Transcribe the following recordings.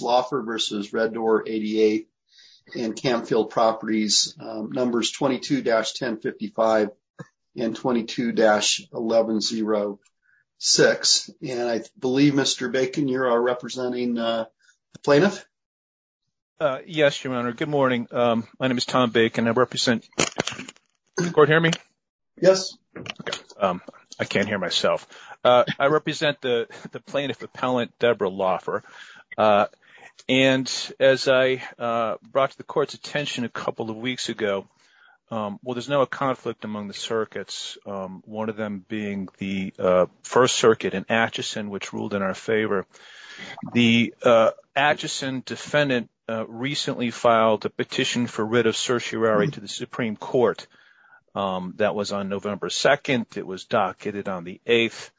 Loffer versus Red Door 88 and Camfield Properties numbers 22-1055 and 22-1106 and I believe Mr. Bacon you are representing the plaintiff? Yes, your honor. Good morning. My name is Tom Bacon. I represent, can the court hear me? Yes, I can't hear myself. I represent the plaintiff appellant Debra Loffer and as I brought to the court's attention a couple of weeks ago, well there's no conflict among the circuits, one of them being the First Circuit in Atchison which ruled in our favor. The Atchison defendant recently filed a petition for writ of certiorari to the Supreme Court. That was on November 2nd. It was docketed on the 8th.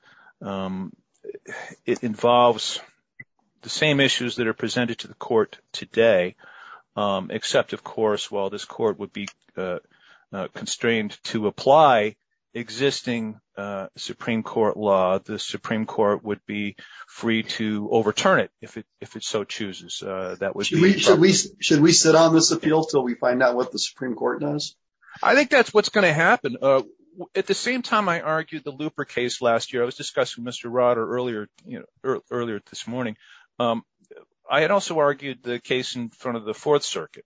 It involves the same issues that are presented to the court today, except of course while this court would be constrained to apply existing Supreme Court law, the Supreme Court would be free to overturn it if it so chooses. Should we sit on this appeal until we find out what the Supreme Court does? I think that's what's going to happen. At the same time I argued the Looper case last year. I was discussing with Mr. Rotter earlier this morning. I had also argued the case in front of the Fourth Circuit.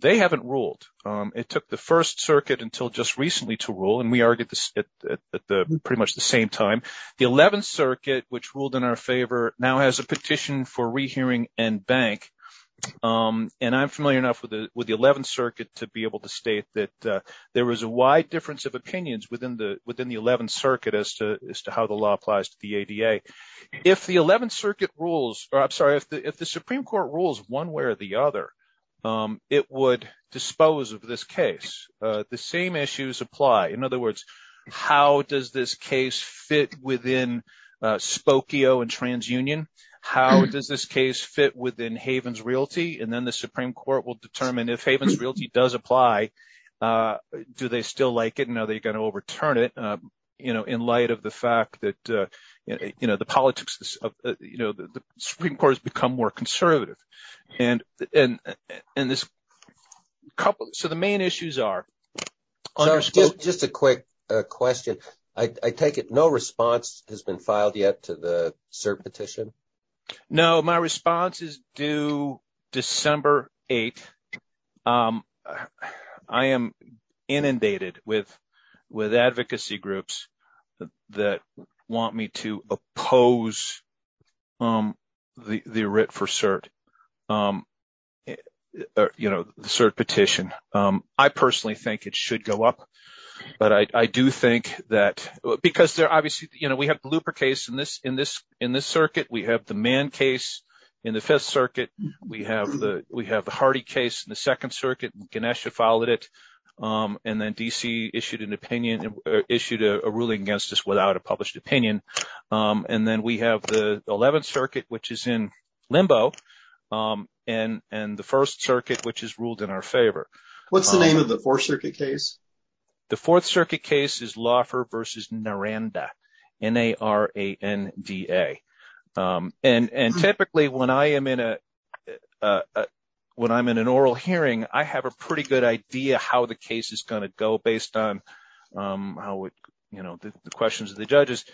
They haven't ruled. It took the First Circuit until just recently to rule and we argued at pretty much the same time. The Eleventh Circuit which ruled in our favor now has a petition for rehearing and bank. And I'm familiar enough with the Eleventh Circuit to be able to state that there was a wide difference of opinions within the Eleventh Circuit as to how the law applies to the ADA. If the Supreme Court rules one way or the other, it would dispose of this case. The same issues apply. In other words, how does this case fit within Spokio and TransUnion? How does this case fit within Havens Realty? And then the Supreme Court will determine if Havens Realty does apply, do they still like it and are they going to overturn it in light of the fact that the politics of the Supreme Court has become more conservative. So the main issues are... Just a quick question. I take it no response has been filed yet to the cert petition? No, my response is due December 8th. I am inundated with advocacy groups that want me to oppose the writ for cert, you know, the cert petition. I personally think it should go up. But I do think that because they're obviously, you know, we have the Looper case in this circuit. We have the Mann case in the Fifth Circuit. We have the Hardy case in the Second Circuit. Ganesha followed it. And then D.C. issued an opinion, issued a ruling against us without a published opinion. And then we have the Eleventh Circuit, which is in limbo. And the First Circuit, which is ruled in our favor. What's the name of the Fourth Circuit case? The Fourth Circuit case is Laufer v. Naranda. N-A-R-A-N-D-A. And typically when I'm in an oral hearing, I have a pretty good idea how the case is going to go based on the questions of the judges.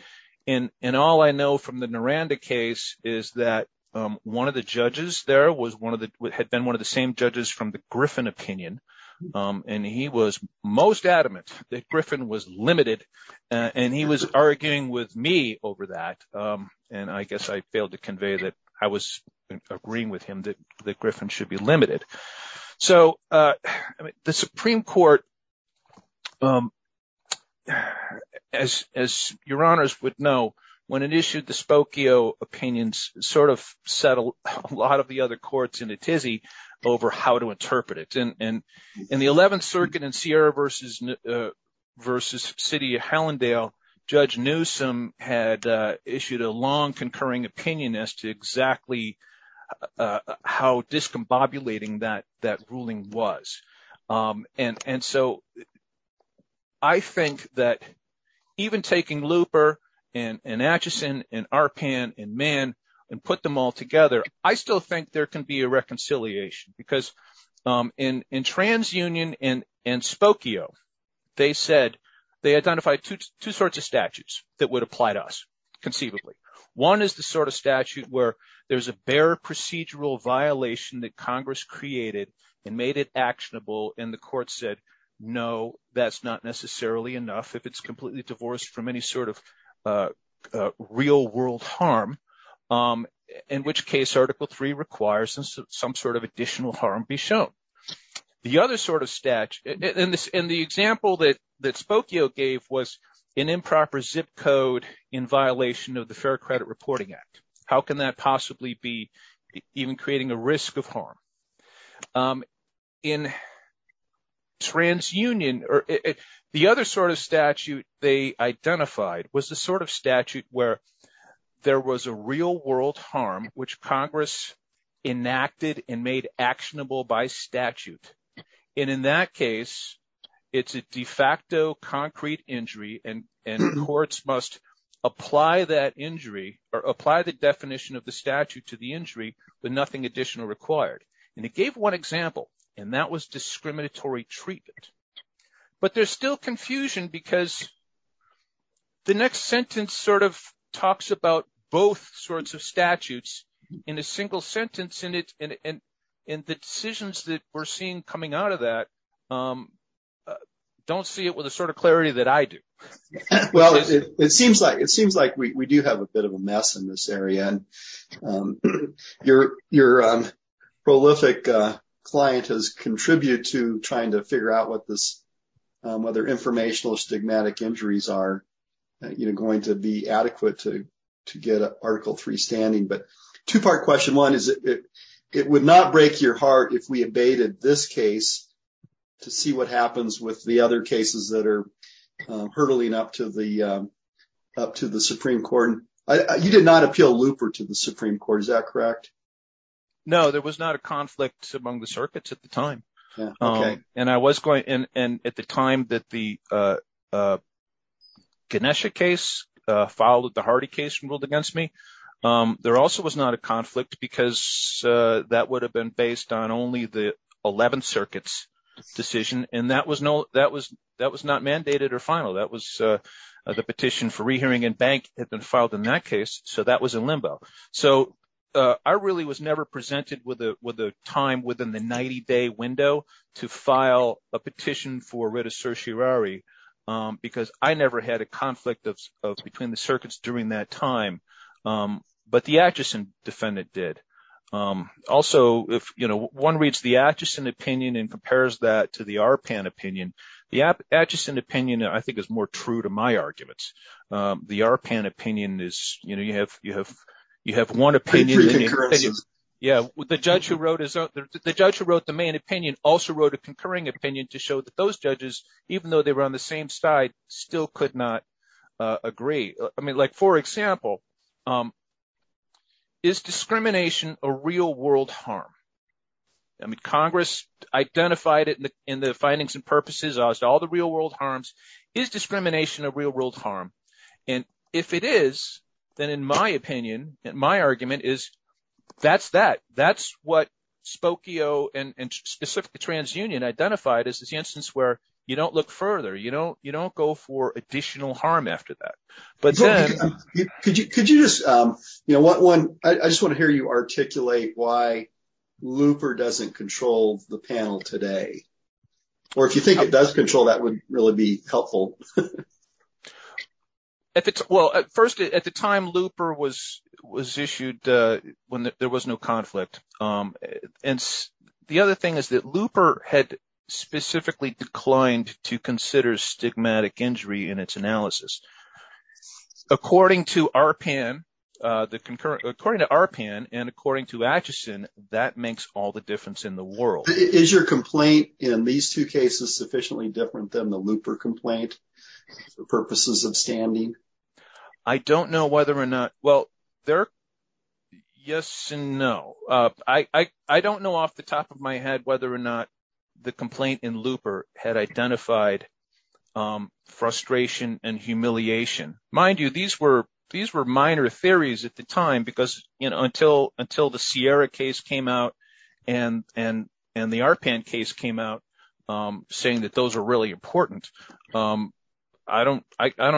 And all I know from the Naranda case is that one of the judges there had been one of the same judges from the Griffin opinion. And he was most adamant that Griffin was limited. And he was arguing with me over that. And I guess I failed to convey that I was agreeing with him that Griffin should be limited. So the Supreme Court, as your honors would know, when it issued the Spokio opinions, sort of settled a lot of the other courts in a tizzy over how to interpret it. And in the Eleventh Circuit in Sierra v. City of Hellendale, Judge Newsom had issued a long concurring opinion as to exactly how discombobulating that ruling was. And so I think that even taking Luper and Acheson and Arpan and Mann and put them all together, I still think there can be a reconciliation. Because in TransUnion and Spokio, they said they identified two sorts of statutes that would apply to us conceivably. One is the sort of statute where there's a bare procedural violation that Congress created and made it actionable. And the court said, no, that's not necessarily enough if it's completely divorced from any sort of real-world harm, in which case Article III requires some sort of additional harm be shown. The other sort of statute – and the example that Spokio gave was an improper zip code in violation of the Fair Credit Reporting Act. How can that possibly be even creating a risk of harm? In TransUnion, the other sort of statute they identified was the sort of statute where there was a real-world harm which Congress enacted and made actionable by statute. And in that case, it's a de facto concrete injury and courts must apply that injury or apply the definition of the statute to the injury with nothing additional required. And it gave one example, and that was discriminatory treatment. But there's still confusion because the next sentence sort of talks about both sorts of statutes in a single sentence. And the decisions that we're seeing coming out of that don't see it with the sort of clarity that I do. Well, it seems like we do have a bit of a mess in this area. And your prolific client has contributed to trying to figure out whether informational or stigmatic injuries are going to be adequate to get Article III standing. But two-part question one is it would not break your heart if we abated this case to see what happens with the other cases that are hurtling up to the Supreme Court. You did not appeal Looper to the Supreme Court, is that correct? No, there was not a conflict among the circuits at the time. And I was going and at the time that the Ganesha case followed the Hardy case ruled against me. There also was not a conflict because that would have been based on only the 11th Circuit's decision. And that was not mandated or final. That was the petition for rehearing in bank had been filed in that case. So that was in limbo. So I really was never presented with a time within the 90-day window to file a petition for writ of certiorari because I never had a conflict between the circuits during that time. But the Atchison defendant did. Also, if one reads the Atchison opinion and compares that to the ARPAN opinion, the Atchison opinion I think is more true to my arguments. The ARPAN opinion is – you have one opinion. Yeah, the judge who wrote the main opinion also wrote a concurring opinion to show that those judges, even though they were on the same side, still could not agree. I mean like for example, is discrimination a real-world harm? I mean Congress identified it in the findings and purposes as all the real-world harms. Is discrimination a real-world harm? And if it is, then in my opinion, my argument is that's that. That's what Spokio and specifically TransUnion identified as the instance where you don't look further. You don't go for additional harm after that. Could you just – I just want to hear you articulate why Looper doesn't control the panel today. Or if you think it does control, that would really be helpful. Well, first, at the time Looper was issued, there was no conflict. And the other thing is that Looper had specifically declined to consider stigmatic injury in its analysis. According to ARPAN and according to Atchison, that makes all the difference in the world. Is your complaint in these two cases sufficiently different than the Looper complaint for purposes of standing? I don't know whether or not – well, yes and no. I don't know off the top of my head whether or not the complaint in Looper had identified frustration and humiliation. Mind you, these were minor theories at the time because until the Sierra case came out and the ARPAN case came out, saying that those are really important, I don't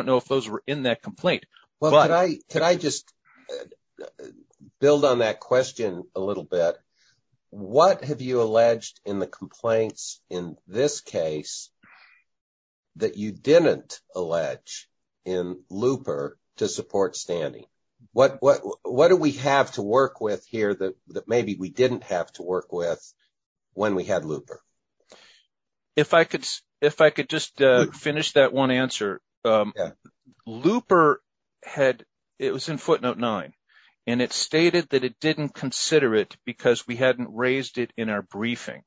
know if those were in that complaint. Well, could I just build on that question a little bit? What have you alleged in the complaints in this case that you didn't allege in Looper to support standing? What do we have to work with here that maybe we didn't have to work with when we had Looper? If I could just finish that one answer. Looper had – it was in footnote 9. And it stated that it didn't consider it because we hadn't raised it in our briefing,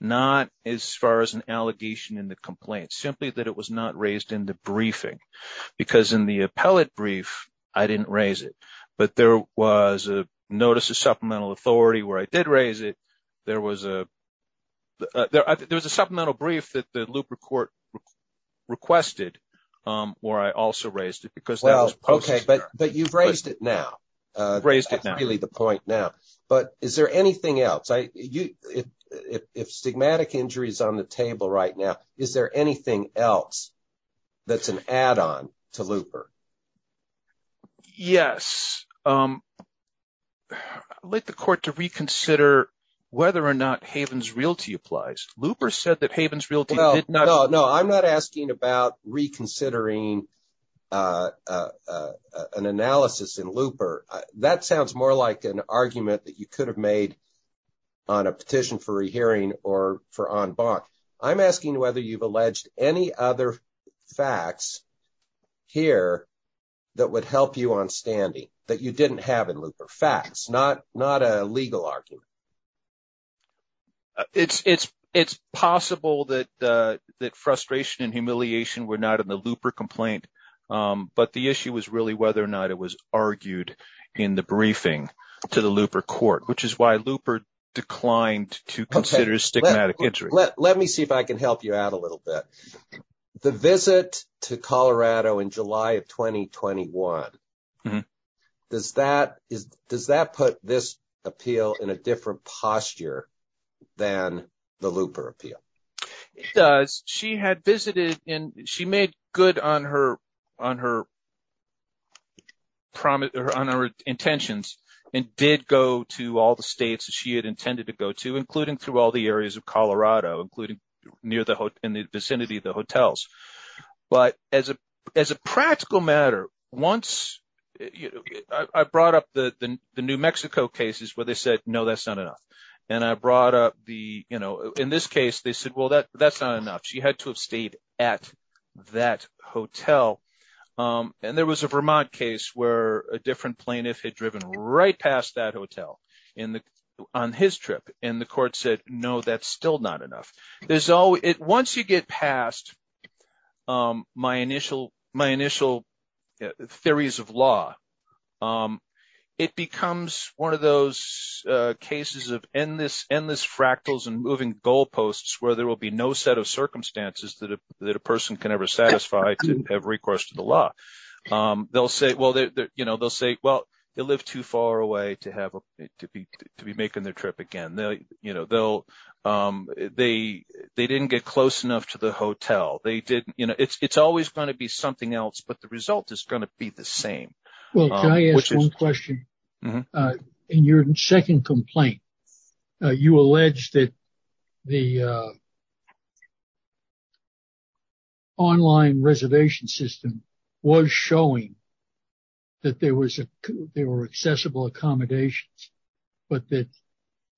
not as far as an allegation in the complaint, simply that it was not raised in the briefing. Because in the appellate brief, I didn't raise it. But there was a notice of supplemental authority where I did raise it. There was a supplemental brief that the Looper court requested where I also raised it because that was posted there. Okay. But you've raised it now. Raised it now. That's really the point now. But is there anything else? If stigmatic injury is on the table right now, is there anything else that's an add-on to Looper? Yes. I'd like the court to reconsider whether or not Havens Realty applies. Looper said that Havens Realty did not – No, I'm not asking about reconsidering an analysis in Looper. That sounds more like an argument that you could have made on a petition for a hearing or for en banc. I'm asking whether you've alleged any other facts here that would help you on standing that you didn't have in Looper. Facts, not a legal argument. It's possible that frustration and humiliation were not in the Looper complaint. But the issue was really whether or not it was argued in the briefing to the Looper court, which is why Looper declined to consider stigmatic injury. Let me see if I can help you out a little bit. The visit to Colorado in July of 2021, does that put this appeal in a different posture than the Looper appeal? It does. She had visited and she made good on her intentions and did go to all the states she had intended to go to, including through all the areas of Colorado, including near the – in the vicinity of the hotels. But as a practical matter, once – I brought up the New Mexico cases where they said, no, that's not enough. And I brought up the – in this case, they said, well, that's not enough. She had to have stayed at that hotel. And there was a Vermont case where a different plaintiff had driven right past that hotel on his trip. And the court said, no, that's still not enough. Once you get past my initial theories of law, it becomes one of those cases of endless fractals and moving goalposts where there will be no set of circumstances that a person can ever satisfy to have recourse to the law. They'll say – well, they'll say, well, they lived too far away to have – to be making their trip again. They'll – they didn't get close enough to the hotel. They didn't – it's always going to be something else, but the result is going to be the same. Well, can I ask one question? In your second complaint, you alleged that the online reservation system was showing that there was – but that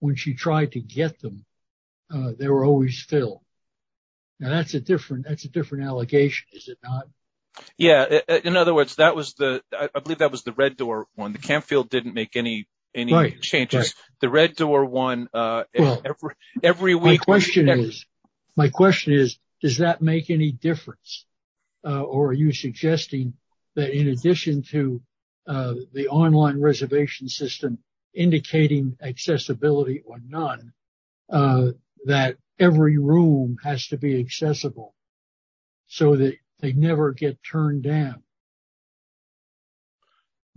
when she tried to get them, they were always filled. Now, that's a different – that's a different allegation, is it not? Yeah. In other words, that was the – I believe that was the Red Door one. The camp field didn't make any changes. The Red Door one, every week – My question is – my question is, does that make any difference? Or are you suggesting that in addition to the online reservation system indicating accessibility or none, that every room has to be accessible so that they never get turned down?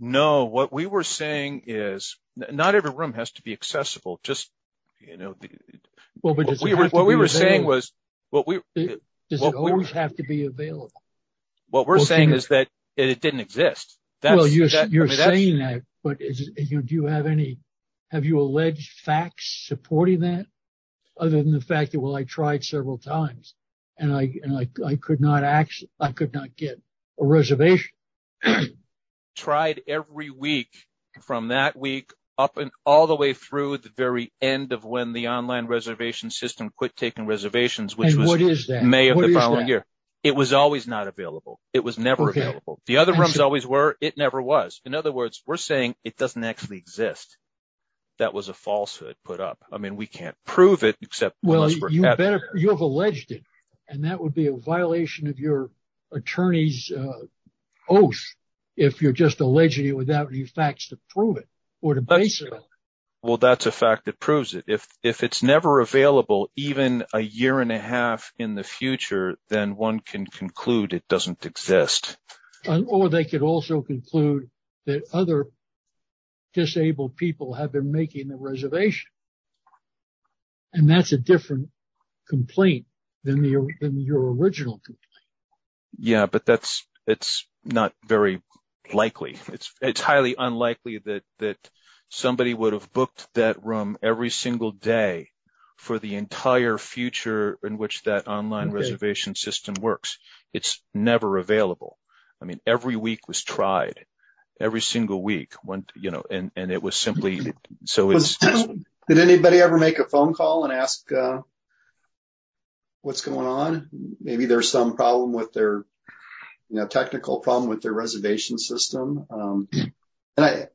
No. What we were saying is not every room has to be accessible. Just, you know – Well, but does it have to be available? What we were saying was – Does it always have to be available? What we're saying is that it didn't exist. Well, you're saying that, but do you have any – have you alleged facts supporting that other than the fact that, well, I tried several times, and I could not get a reservation? Tried every week from that week up and all the way through the very end of when the online reservation system quit taking reservations, which was May of the following year. And what is that? What is that? It was always not available. It was never available. The other rooms always were. It never was. In other words, we're saying it doesn't actually exist. That was a falsehood put up. I mean, we can't prove it except – Well, you have alleged it, and that would be a violation of your attorney's oath if you're just alleging it without any facts to prove it or to base it on. Well, that's a fact that proves it. If it's never available, even a year and a half in the future, then one can conclude it doesn't exist. Or they could also conclude that other disabled people have been making the reservation. And that's a different complaint than your original complaint. Yeah, but that's – it's not very likely. It's highly unlikely that somebody would have booked that room every single day for the entire future in which that online reservation system works. It's never available. I mean, every week was tried, every single week. And it was simply – so it's – Did anybody ever make a phone call and ask what's going on? Maybe there's some problem with their – technical problem with their reservation system. And I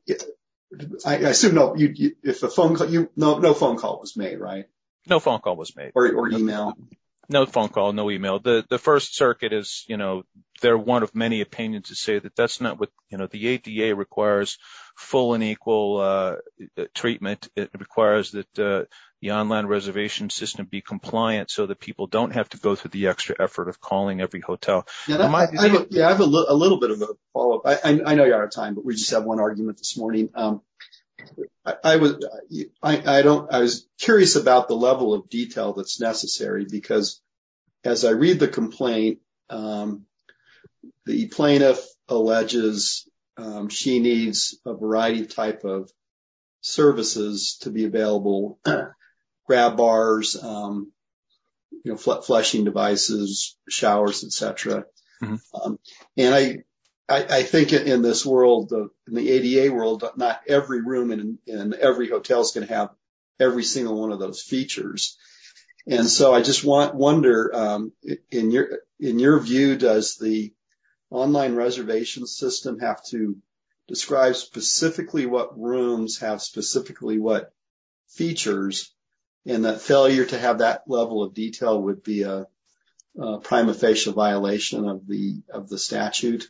assume – no phone call was made, right? No phone call was made. Or email? No phone call, no email. The First Circuit is – they're one of many opinions to say that that's not what – the ADA requires full and equal treatment. It requires that the online reservation system be compliant so that people don't have to go through the extra effort of calling every hotel. Yeah, I have a little bit of a follow-up. I know you're out of time, but we just have one argument this morning. I was curious about the level of detail that's necessary because as I read the complaint, the plaintiff alleges she needs a variety of type of services to be available, grab bars, flushing devices, showers, et cetera. And I think in this world, in the ADA world, not every room in every hotel is going to have every single one of those features. And so I just wonder, in your view, does the online reservation system have to describe specifically what rooms have specifically what features, and that failure to have that level of detail would be a prima facie violation of the statute?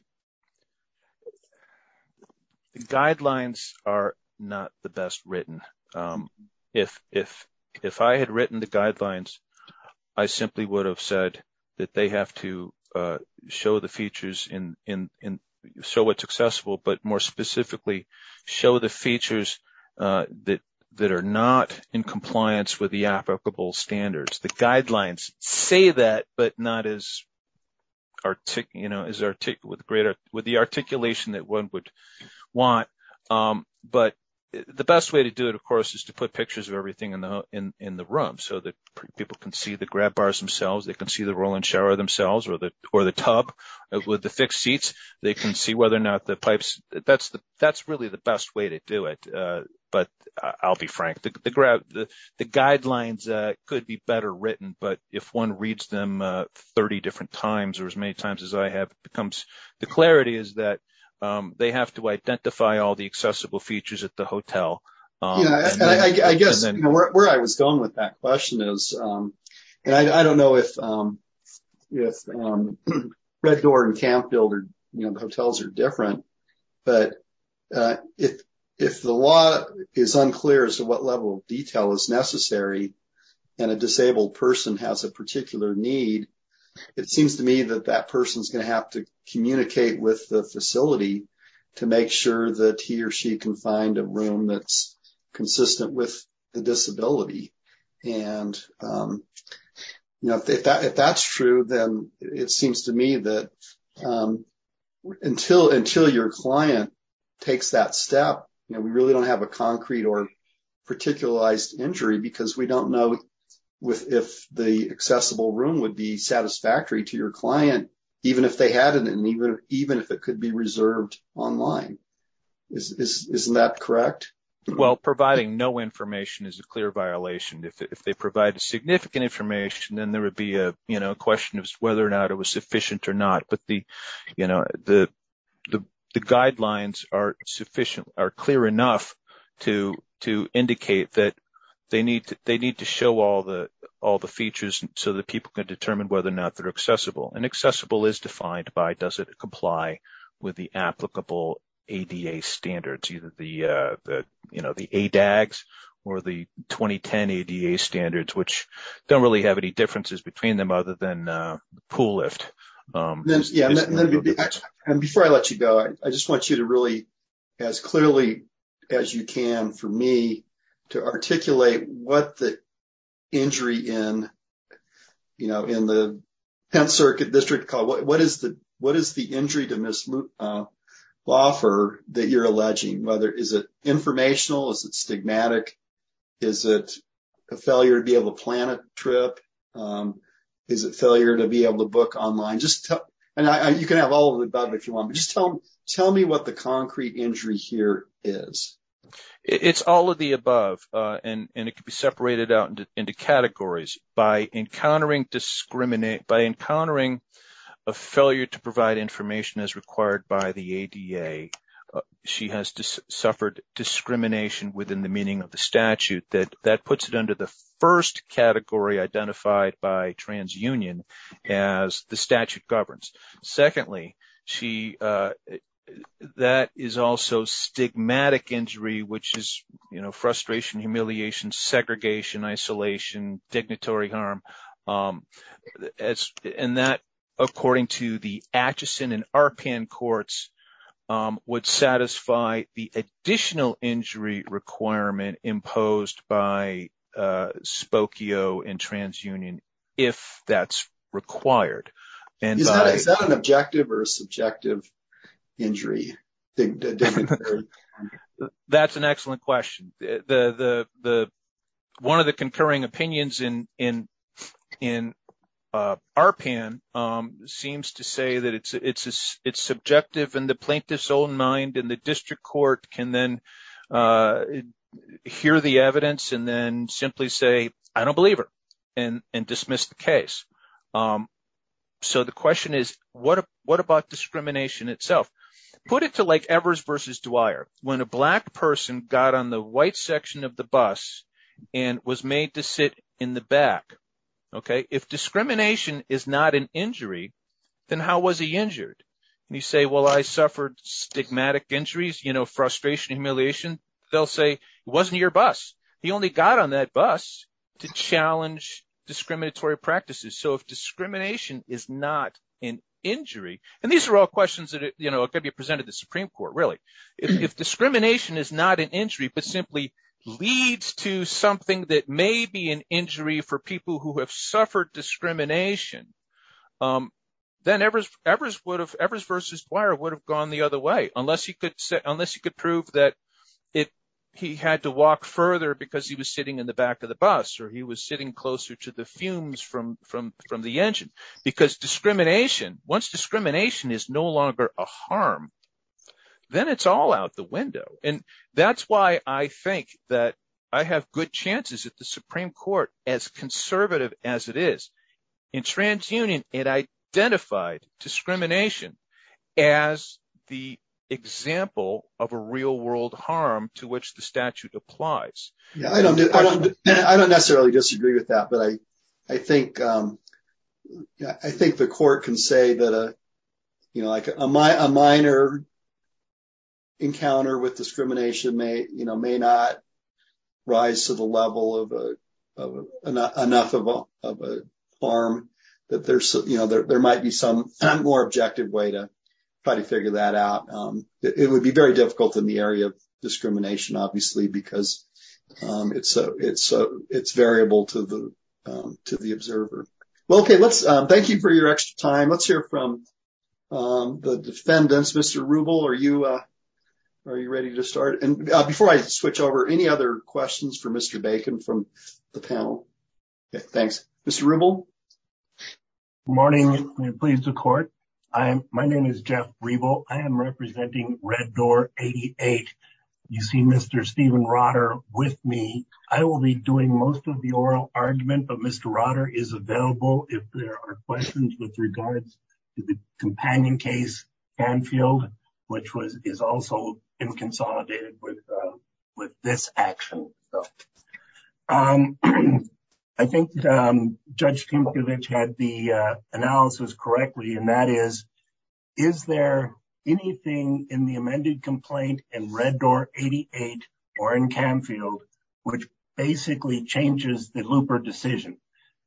The guidelines are not the best written. If I had written the guidelines, I simply would have said that they have to show the features and show what's accessible, but more specifically, show the features that are not in compliance with the applicable standards. The guidelines say that, but not with the articulation that one would want. But the best way to do it, of course, is to put pictures of everything in the room so that people can see the grab bars themselves, they can see the roll-in shower themselves or the tub with the fixed seats. They can see whether or not the pipes, that's really the best way to do it. But I'll be frank, the guidelines could be better written, but if one reads them 30 different times or as many times as I have, the clarity is that they have to identify all the accessible features at the hotel. I guess where I was going with that question is, and I don't know if Red Door and Campbell, the hotels are different, but if the law is unclear as to what level of detail is necessary and a disabled person has a particular need, it seems to me that that person is going to have to communicate with the facility to make sure that he or she can find a room that's consistent with the disability. If that's true, then it seems to me that until your client takes that step, we really don't have a concrete or particularized injury because we don't know if the accessible room would be satisfactory to your client, even if they had it and even if it could be reserved online. Isn't that correct? Well, providing no information is a clear violation. If they provide significant information, then there would be a question of whether or not it was sufficient or not. But the guidelines are clear enough to indicate that they need to show all the features so that people can determine whether or not they're accessible. And accessible is defined by does it comply with the applicable ADA standards, either the ADAGS or the 2010 ADA standards, which don't really have any differences between them other than the pool lift. Before I let you go, I just want you to really as clearly as you can for me to articulate what the injury in the Penn Circuit District Court, what is the injury to Ms. Loffer that you're alleging? Is it informational? Is it stigmatic? Is it a failure to be able to plan a trip? Is it failure to be able to book online? You can have all of it about it if you want, but just tell me what the concrete injury here is. It's all of the above, and it can be separated out into categories. By encountering a failure to provide information as required by the ADA, she has suffered discrimination within the meaning of the statute. That puts it under the first category identified by TransUnion as the statute governs. Secondly, that is also stigmatic injury, which is frustration, humiliation, segregation, isolation, dignitary harm. And that, according to the Atchison and Arpan courts, would satisfy the additional injury requirement imposed by Spokio and TransUnion if that's required. Is that an objective or a subjective injury? That's an excellent question. One of the concurring opinions in Arpan seems to say that it's subjective and the plaintiff's own mind and the district court can then hear the evidence and then simply say, I don't believe her and dismiss the case. So the question is, what about discrimination itself? Put it to like Evers versus Dwyer. When a black person got on the white section of the bus and was made to sit in the back, if discrimination is not an injury, then how was he injured? You say, well, I suffered stigmatic injuries, frustration, humiliation. They'll say, it wasn't your bus. He only got on that bus to challenge discriminatory practices. So if discrimination is not an injury, and these are all questions that could be presented to the Supreme Court, really. If discrimination is not an injury but simply leads to something that may be an injury for people who have suffered discrimination, then Evers versus Dwyer would have gone the other way, unless he could prove that he had to walk further because he was sitting in the back of the bus or he was sitting closer to the fumes from the engine. Because discrimination, once discrimination is no longer a harm, then it's all out the window. And that's why I think that I have good chances at the Supreme Court, as conservative as it is. In TransUnion, it identified discrimination as the example of a real-world harm to which the statute applies. I don't necessarily disagree with that, but I think the court can say that a minor encounter with discrimination may not rise to the level of enough of a harm, that there might be some more objective way to try to figure that out. It would be very difficult in the area of discrimination, obviously, because it's variable to the observer. Well, thank you for your extra time. Let's hear from the defendants. Mr. Rubel, are you ready to start? And before I switch over, any other questions for Mr. Bacon from the panel? Thanks. Mr. Rubel? Good morning. I'm pleased to court. My name is Jeff Rubel. I am representing Red Door 88. You see Mr. Stephen Rotter with me. I will be doing most of the oral argument, but Mr. Rotter is available if there are questions with regards to the companion case, Canfield, which is also inconsolidated with this action. I think Judge Kempovich had the analysis correctly, and that is, is there anything in the amended complaint in Red Door 88 or in Canfield, which basically changes the looper decision?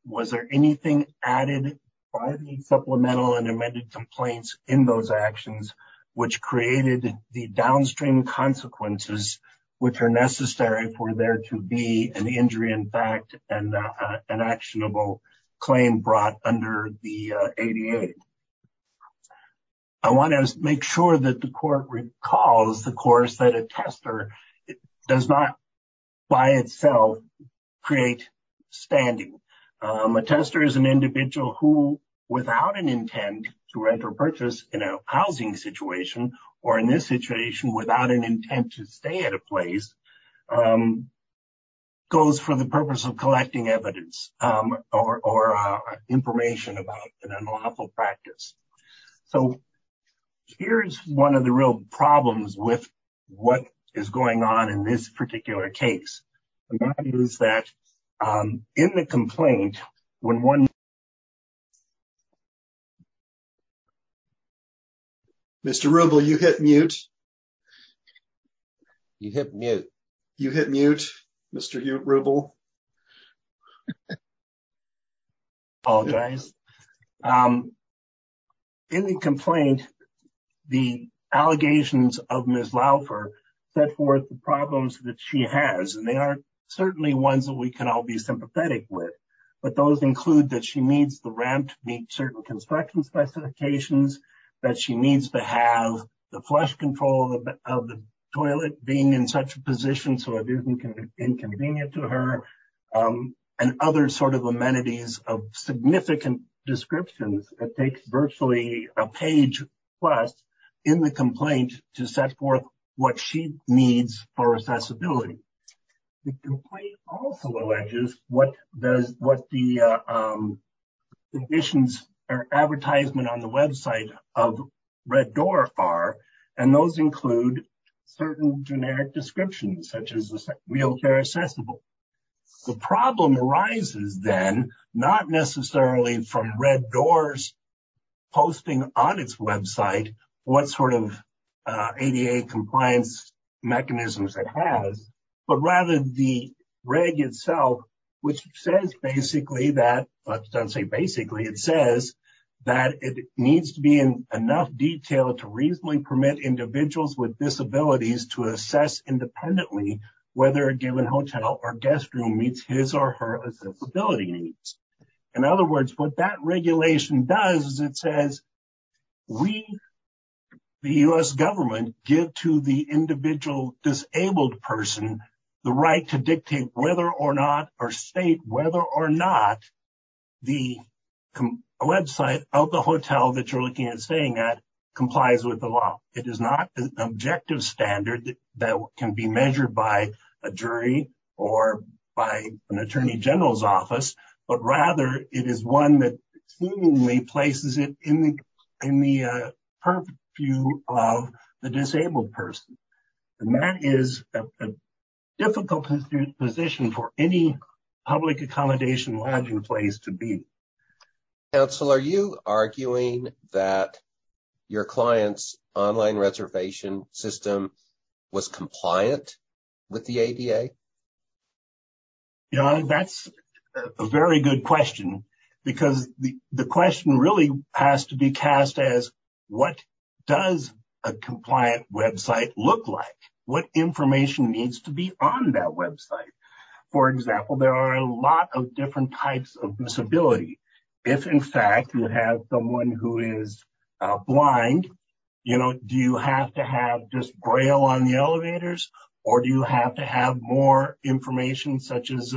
Was there anything added by the supplemental and amended complaints in those actions, which created the downstream consequences, which are necessary for there to be an injury in fact and an actionable claim brought under the 88? I want to make sure that the court recalls the course that a tester does not by itself create standing. A tester is an individual who, without an intent to rent or purchase in a housing situation or in this situation without an intent to stay at a place, goes for the purpose of collecting evidence or information about an unlawful practice. Here is one of the real problems with what is going on in this particular case. Mr. Rubel, you hit mute. You hit mute. You hit mute, Mr. Rubel. I apologize. In the complaint, the allegations of Ms. Laufer set forth the problems that she has, and they are certainly ones that we can all be sympathetic with. But those include that she needs the ramp to meet certain construction specifications, that she needs to have the flush control of the toilet being in such a position so it isn't inconvenient to her, and other sort of amenities of significant descriptions. It takes virtually a page plus in the complaint to set forth what she needs for accessibility. The complaint also alleges what the conditions or advertisement on the website of Red Door are, and those include certain generic descriptions, such as wheelchair accessible. The problem arises then not necessarily from Red Door's posting on its website what sort of ADA compliance mechanisms it has, but rather the reg itself, which says basically that it needs to be in enough detail to reasonably permit individuals with disabilities to assess independently whether a given hotel or guest room meets his or her accessibility needs. In other words, what that regulation does is it says we, the U.S. government, give to the individual disabled person the right to dictate whether or not or state whether or not the website of the hotel that you're looking at staying at complies with the law. It is not an objective standard that can be measured by a jury or by an attorney general's office, but rather it is one that seemingly places it in the purview of the disabled person. And that is a difficult position for any public accommodation lodging place to be. Council, are you arguing that your client's online reservation system was compliant with the ADA? Yeah, that's a very good question, because the question really has to be cast as what does a compliant website look like? What information needs to be on that website? For example, there are a lot of different types of disability. If, in fact, you have someone who is blind, you know, do you have to have just braille on the elevators or do you have to have more information such as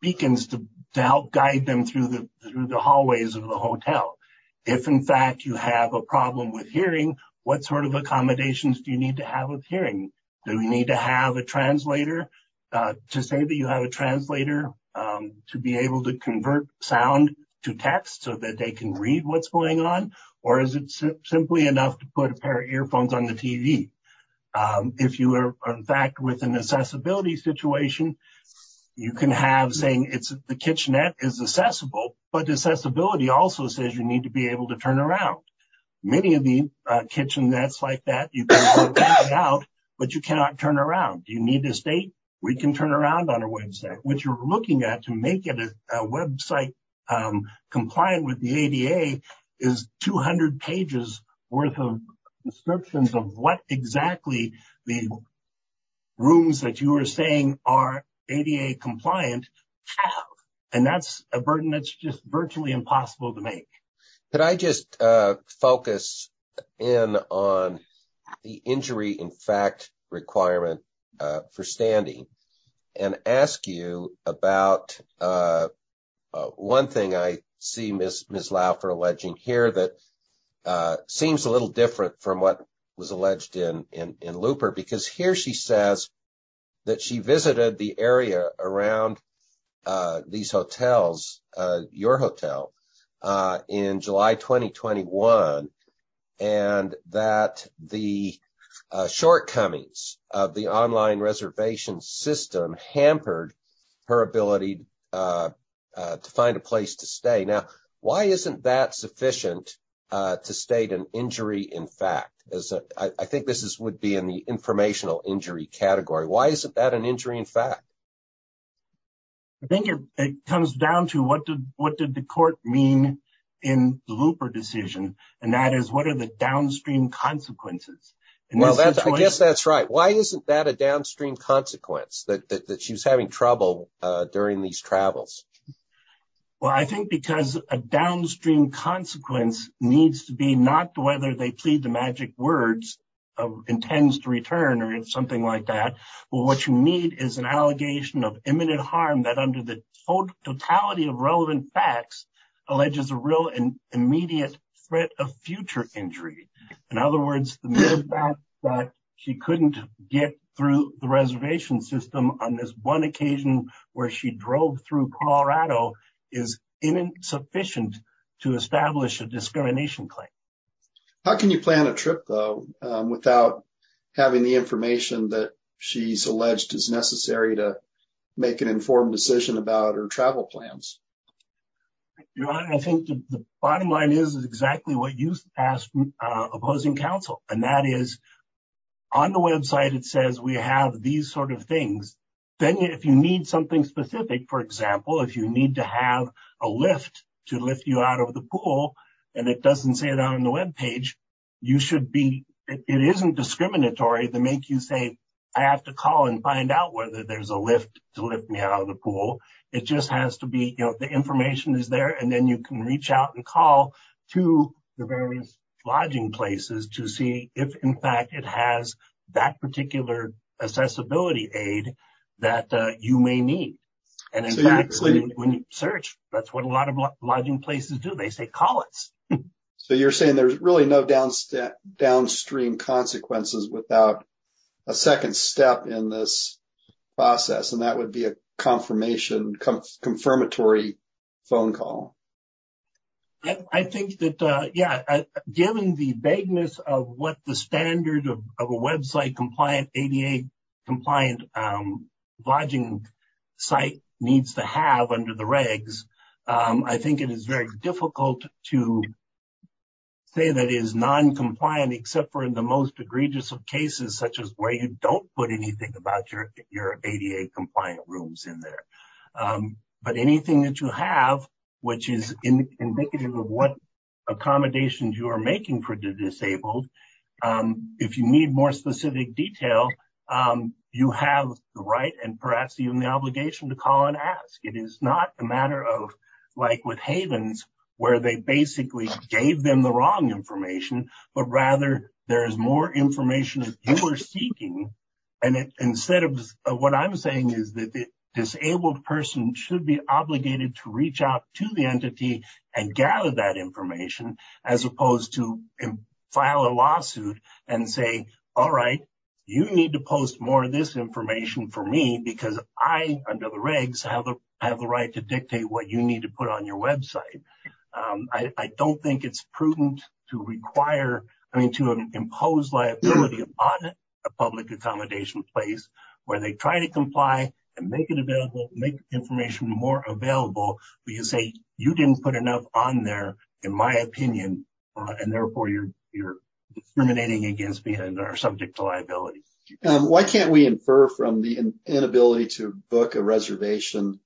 beacons to help guide them through the hallways of the hotel? If, in fact, you have a problem with hearing, what sort of accommodations do you need to have with hearing? Do we need to have a translator to say that you have a translator to be able to convert sound to text so that they can read what's going on? Or is it simply enough to put a pair of earphones on the TV? If you are, in fact, with an accessibility situation, you can have saying it's the kitchenette is accessible, but accessibility also says you need to be able to turn around. Many of the kitchenettes like that you can put out, but you cannot turn around. Do you need a state? We can turn around on our website. What you're looking at to make it a website compliant with the ADA is 200 pages worth of descriptions of what exactly the rooms that you are saying are ADA compliant. And that's a burden that's just virtually impossible to make. Could I just focus in on the injury in fact requirement for standing and ask you about one thing I see Ms. Laufer alleging here that seems a little different from what was alleged in Looper. Because here she says that she visited the area around these hotels, your hotel, in July 2021, and that the shortcomings of the online reservation system hampered her ability to find a place to stay. Now, why isn't that sufficient to state an injury in fact? I think this would be in the informational injury category. Why isn't that an injury in fact? I think it comes down to what did the court mean in the Looper decision, and that is what are the downstream consequences? Well, I guess that's right. Why isn't that a downstream consequence that she was having trouble during these travels? Well, I think because a downstream consequence needs to be not whether they plead the magic words of intends to return or something like that. What you need is an allegation of imminent harm that under the totality of relevant facts alleges a real and immediate threat of future injury. In other words, the mere fact that she couldn't get through the reservation system on this one occasion where she drove through Colorado is insufficient to establish a discrimination claim. How can you plan a trip though without having the information that she's alleged is necessary to make an informed decision about her travel plans? I think the bottom line is exactly what you asked opposing counsel, and that is on the website it says we have these sort of things. Then if you need something specific, for example, if you need to have a lift to lift you out of the pool, and it doesn't say it on the web page, you should be. It isn't discriminatory to make you say I have to call and find out whether there's a lift to lift me out of the pool. It just has to be the information is there, and then you can reach out and call to the various lodging places to see if, in fact, it has that particular accessibility aid that you may need. And in fact, when you search, that's what a lot of lodging places do. They say call it. So you're saying there's really no downstream consequences without a second step in this process, and that would be a confirmation confirmatory phone call. I think that, yeah, given the vagueness of what the standard of a website compliant ADA compliant lodging site needs to have under the regs, I think it is very difficult to say that is noncompliant, except for in the most egregious of cases, such as where you don't put anything about your ADA compliant rooms in there. But anything that you have, which is indicative of what accommodations you are making for the disabled, if you need more specific detail, you have the right and perhaps even the obligation to call and ask. It is not a matter of like with Havens, where they basically gave them the wrong information, but rather there is more information that you are seeking. And instead of what I'm saying is that the disabled person should be obligated to reach out to the entity and gather that information, as opposed to file a lawsuit and say, all right, you need to post more of this information for me because I, under the regs, have the right to dictate what you need to put on your website. I don't think it's prudent to require, I mean, to impose liability on a public accommodation place where they try to comply and make it available, make information more available, but you say you didn't put enough on there, in my opinion, and therefore you're discriminating against me and are subject to liability. Why can't we infer from the inability to book a reservation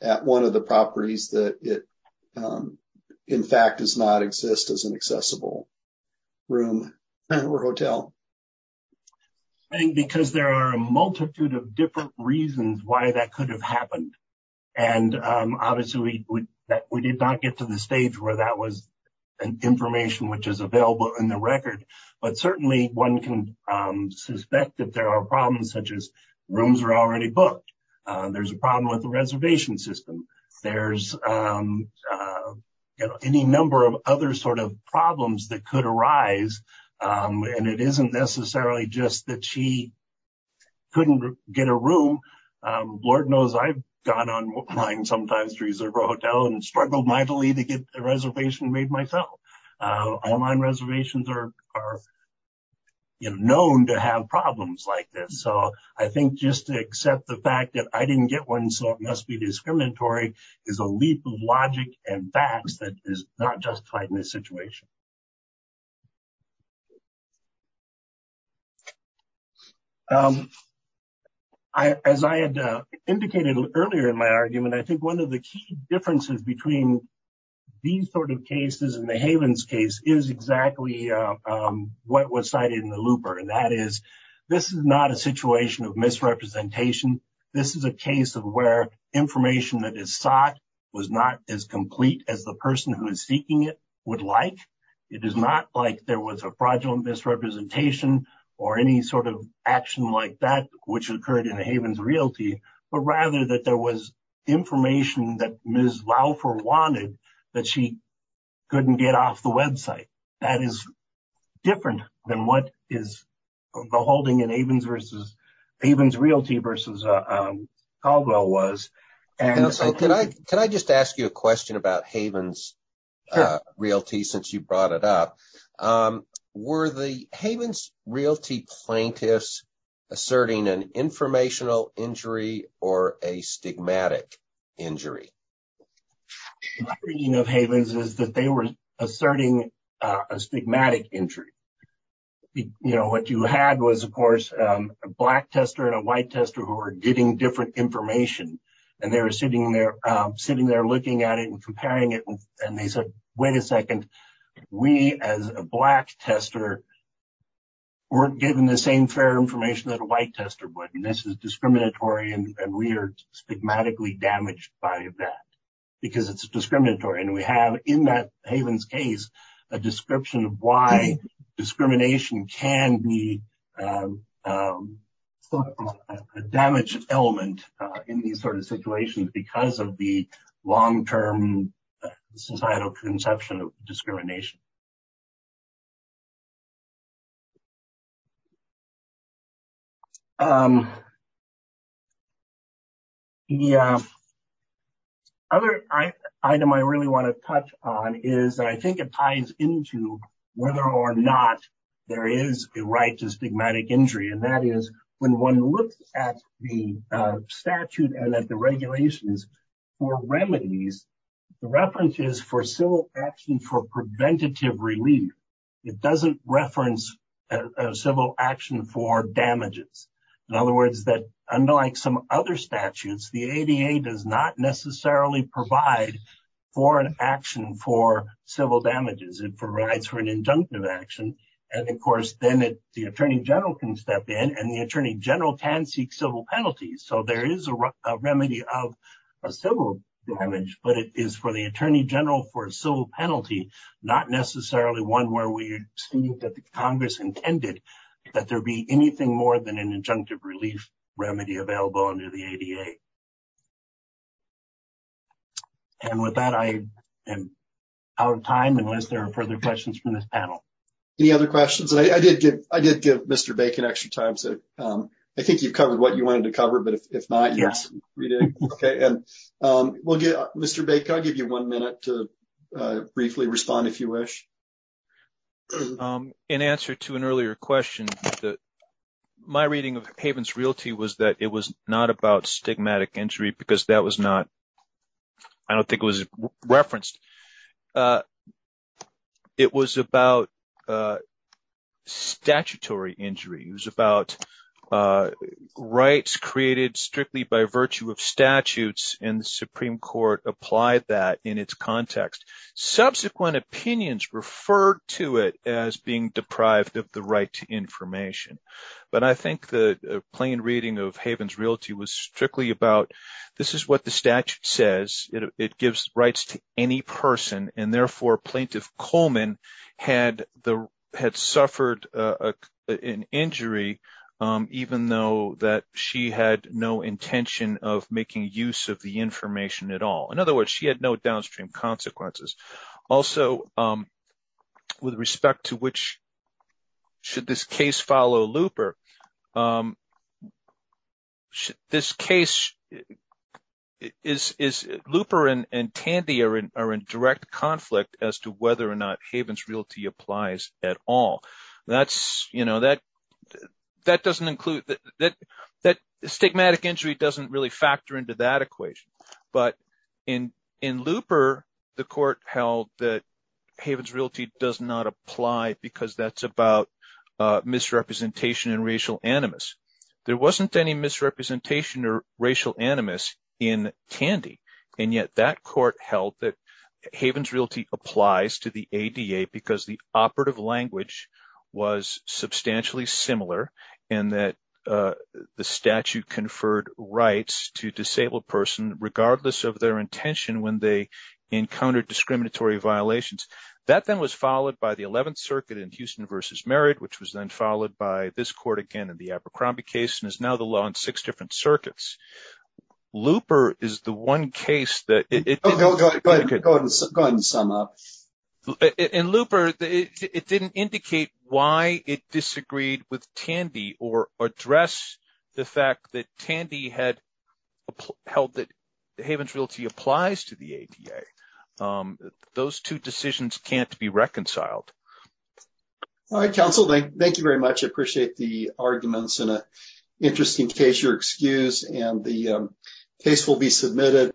at one of the properties that it, in fact, does not exist as an accessible room or hotel? I think because there are a multitude of different reasons why that could have happened. And obviously, we did not get to the stage where that was an information which is available in the record. But certainly, one can suspect that there are problems such as rooms are already booked. There's a problem with the reservation system. There's any number of other sort of problems that could arise. And it isn't necessarily just that she couldn't get a room. Lord knows I've gone online sometimes to reserve a hotel and struggled mightily to get a reservation made myself. Online reservations are known to have problems like this. So I think just to accept the fact that I didn't get one, so it must be discriminatory, is a leap of logic and facts that is not justified in this situation. As I had indicated earlier in my argument, I think one of the key differences between these sort of cases and the Havens case is exactly what was cited in the looper. And that is, this is not a situation of misrepresentation. This is a case of where information that is sought was not as complete as the person who is seeking it would like. It is not like there was a fraudulent misrepresentation or any sort of action like that, which occurred in the Havens realty. But rather that there was information that Ms. Laufer wanted that she couldn't get off the website. That is different than what is the holding in Havens realty versus Caldwell was. Can I just ask you a question about Havens realty since you brought it up? Were the Havens realty plaintiffs asserting an informational injury or a stigmatic injury? My reading of Havens is that they were asserting a stigmatic injury. You know, what you had was, of course, a black tester and a white tester who were getting different information. And they were sitting there, sitting there, looking at it and comparing it. And they said, wait a second. We, as a black tester, weren't given the same fair information that a white tester would. And this is discriminatory. And we are stigmatically damaged by that because it's discriminatory. And we have in that Havens case a description of why discrimination can be a damage element in these sort of situations because of the long term societal conception of discrimination. The other item I really want to touch on is I think it ties into whether or not there is a right to stigmatic injury. And that is when one looks at the statute and at the regulations for remedies, the reference is for civil action for preventative relief. It doesn't reference civil action for damages. In other words, that unlike some other statutes, the ADA does not necessarily provide for an action for civil damages. It provides for an injunctive action. And, of course, then the Attorney General can step in and the Attorney General can seek civil penalties. So there is a remedy of a civil damage, but it is for the Attorney General for a civil penalty, not necessarily one where we see that the Congress intended that there be anything more than an injunctive relief remedy available under the ADA. And with that, I am out of time unless there are further questions from this panel. Any other questions? I did give Mr. Bacon extra time. So I think you've covered what you wanted to cover. But if not, yes. Mr. Bacon, I'll give you one minute to briefly respond if you wish. In answer to an earlier question, my reading of Havens Realty was that it was not about stigmatic injury because that was not, I don't think it was referenced. It was about statutory injury. It was about rights created strictly by virtue of statutes and the Supreme Court applied that in its context. Subsequent opinions referred to it as being deprived of the right to information. But I think the plain reading of Havens Realty was strictly about this is what the statute says. It gives rights to any person and therefore Plaintiff Coleman had suffered an injury even though that she had no intention of making use of the information at all. In other words, she had no downstream consequences. Also, with respect to which should this case follow Looper, this case is Looper and Tandy are in direct conflict as to whether or not Havens Realty applies at all. Stigmatic injury doesn't really factor into that equation. But in Looper, the court held that Havens Realty does not apply because that's about misrepresentation and racial animus. There wasn't any misrepresentation or racial animus in Tandy. And yet that court held that Havens Realty applies to the ADA because the operative language was substantially similar and that the statute conferred rights to disabled person regardless of their intention when they encountered discriminatory violations. That then was followed by the 11th Circuit in Houston v. Merritt which was then followed by this court again in the Abercrombie case and is now the law in six different circuits. Looper is the one case that – Go ahead and sum up. In Looper, it didn't indicate why it disagreed with Tandy or address the fact that Tandy had held that Havens Realty applies to the ADA. Those two decisions can't be reconciled. All right, counsel. Thank you very much. I appreciate the arguments in an interesting case. You're excused and the case will be submitted.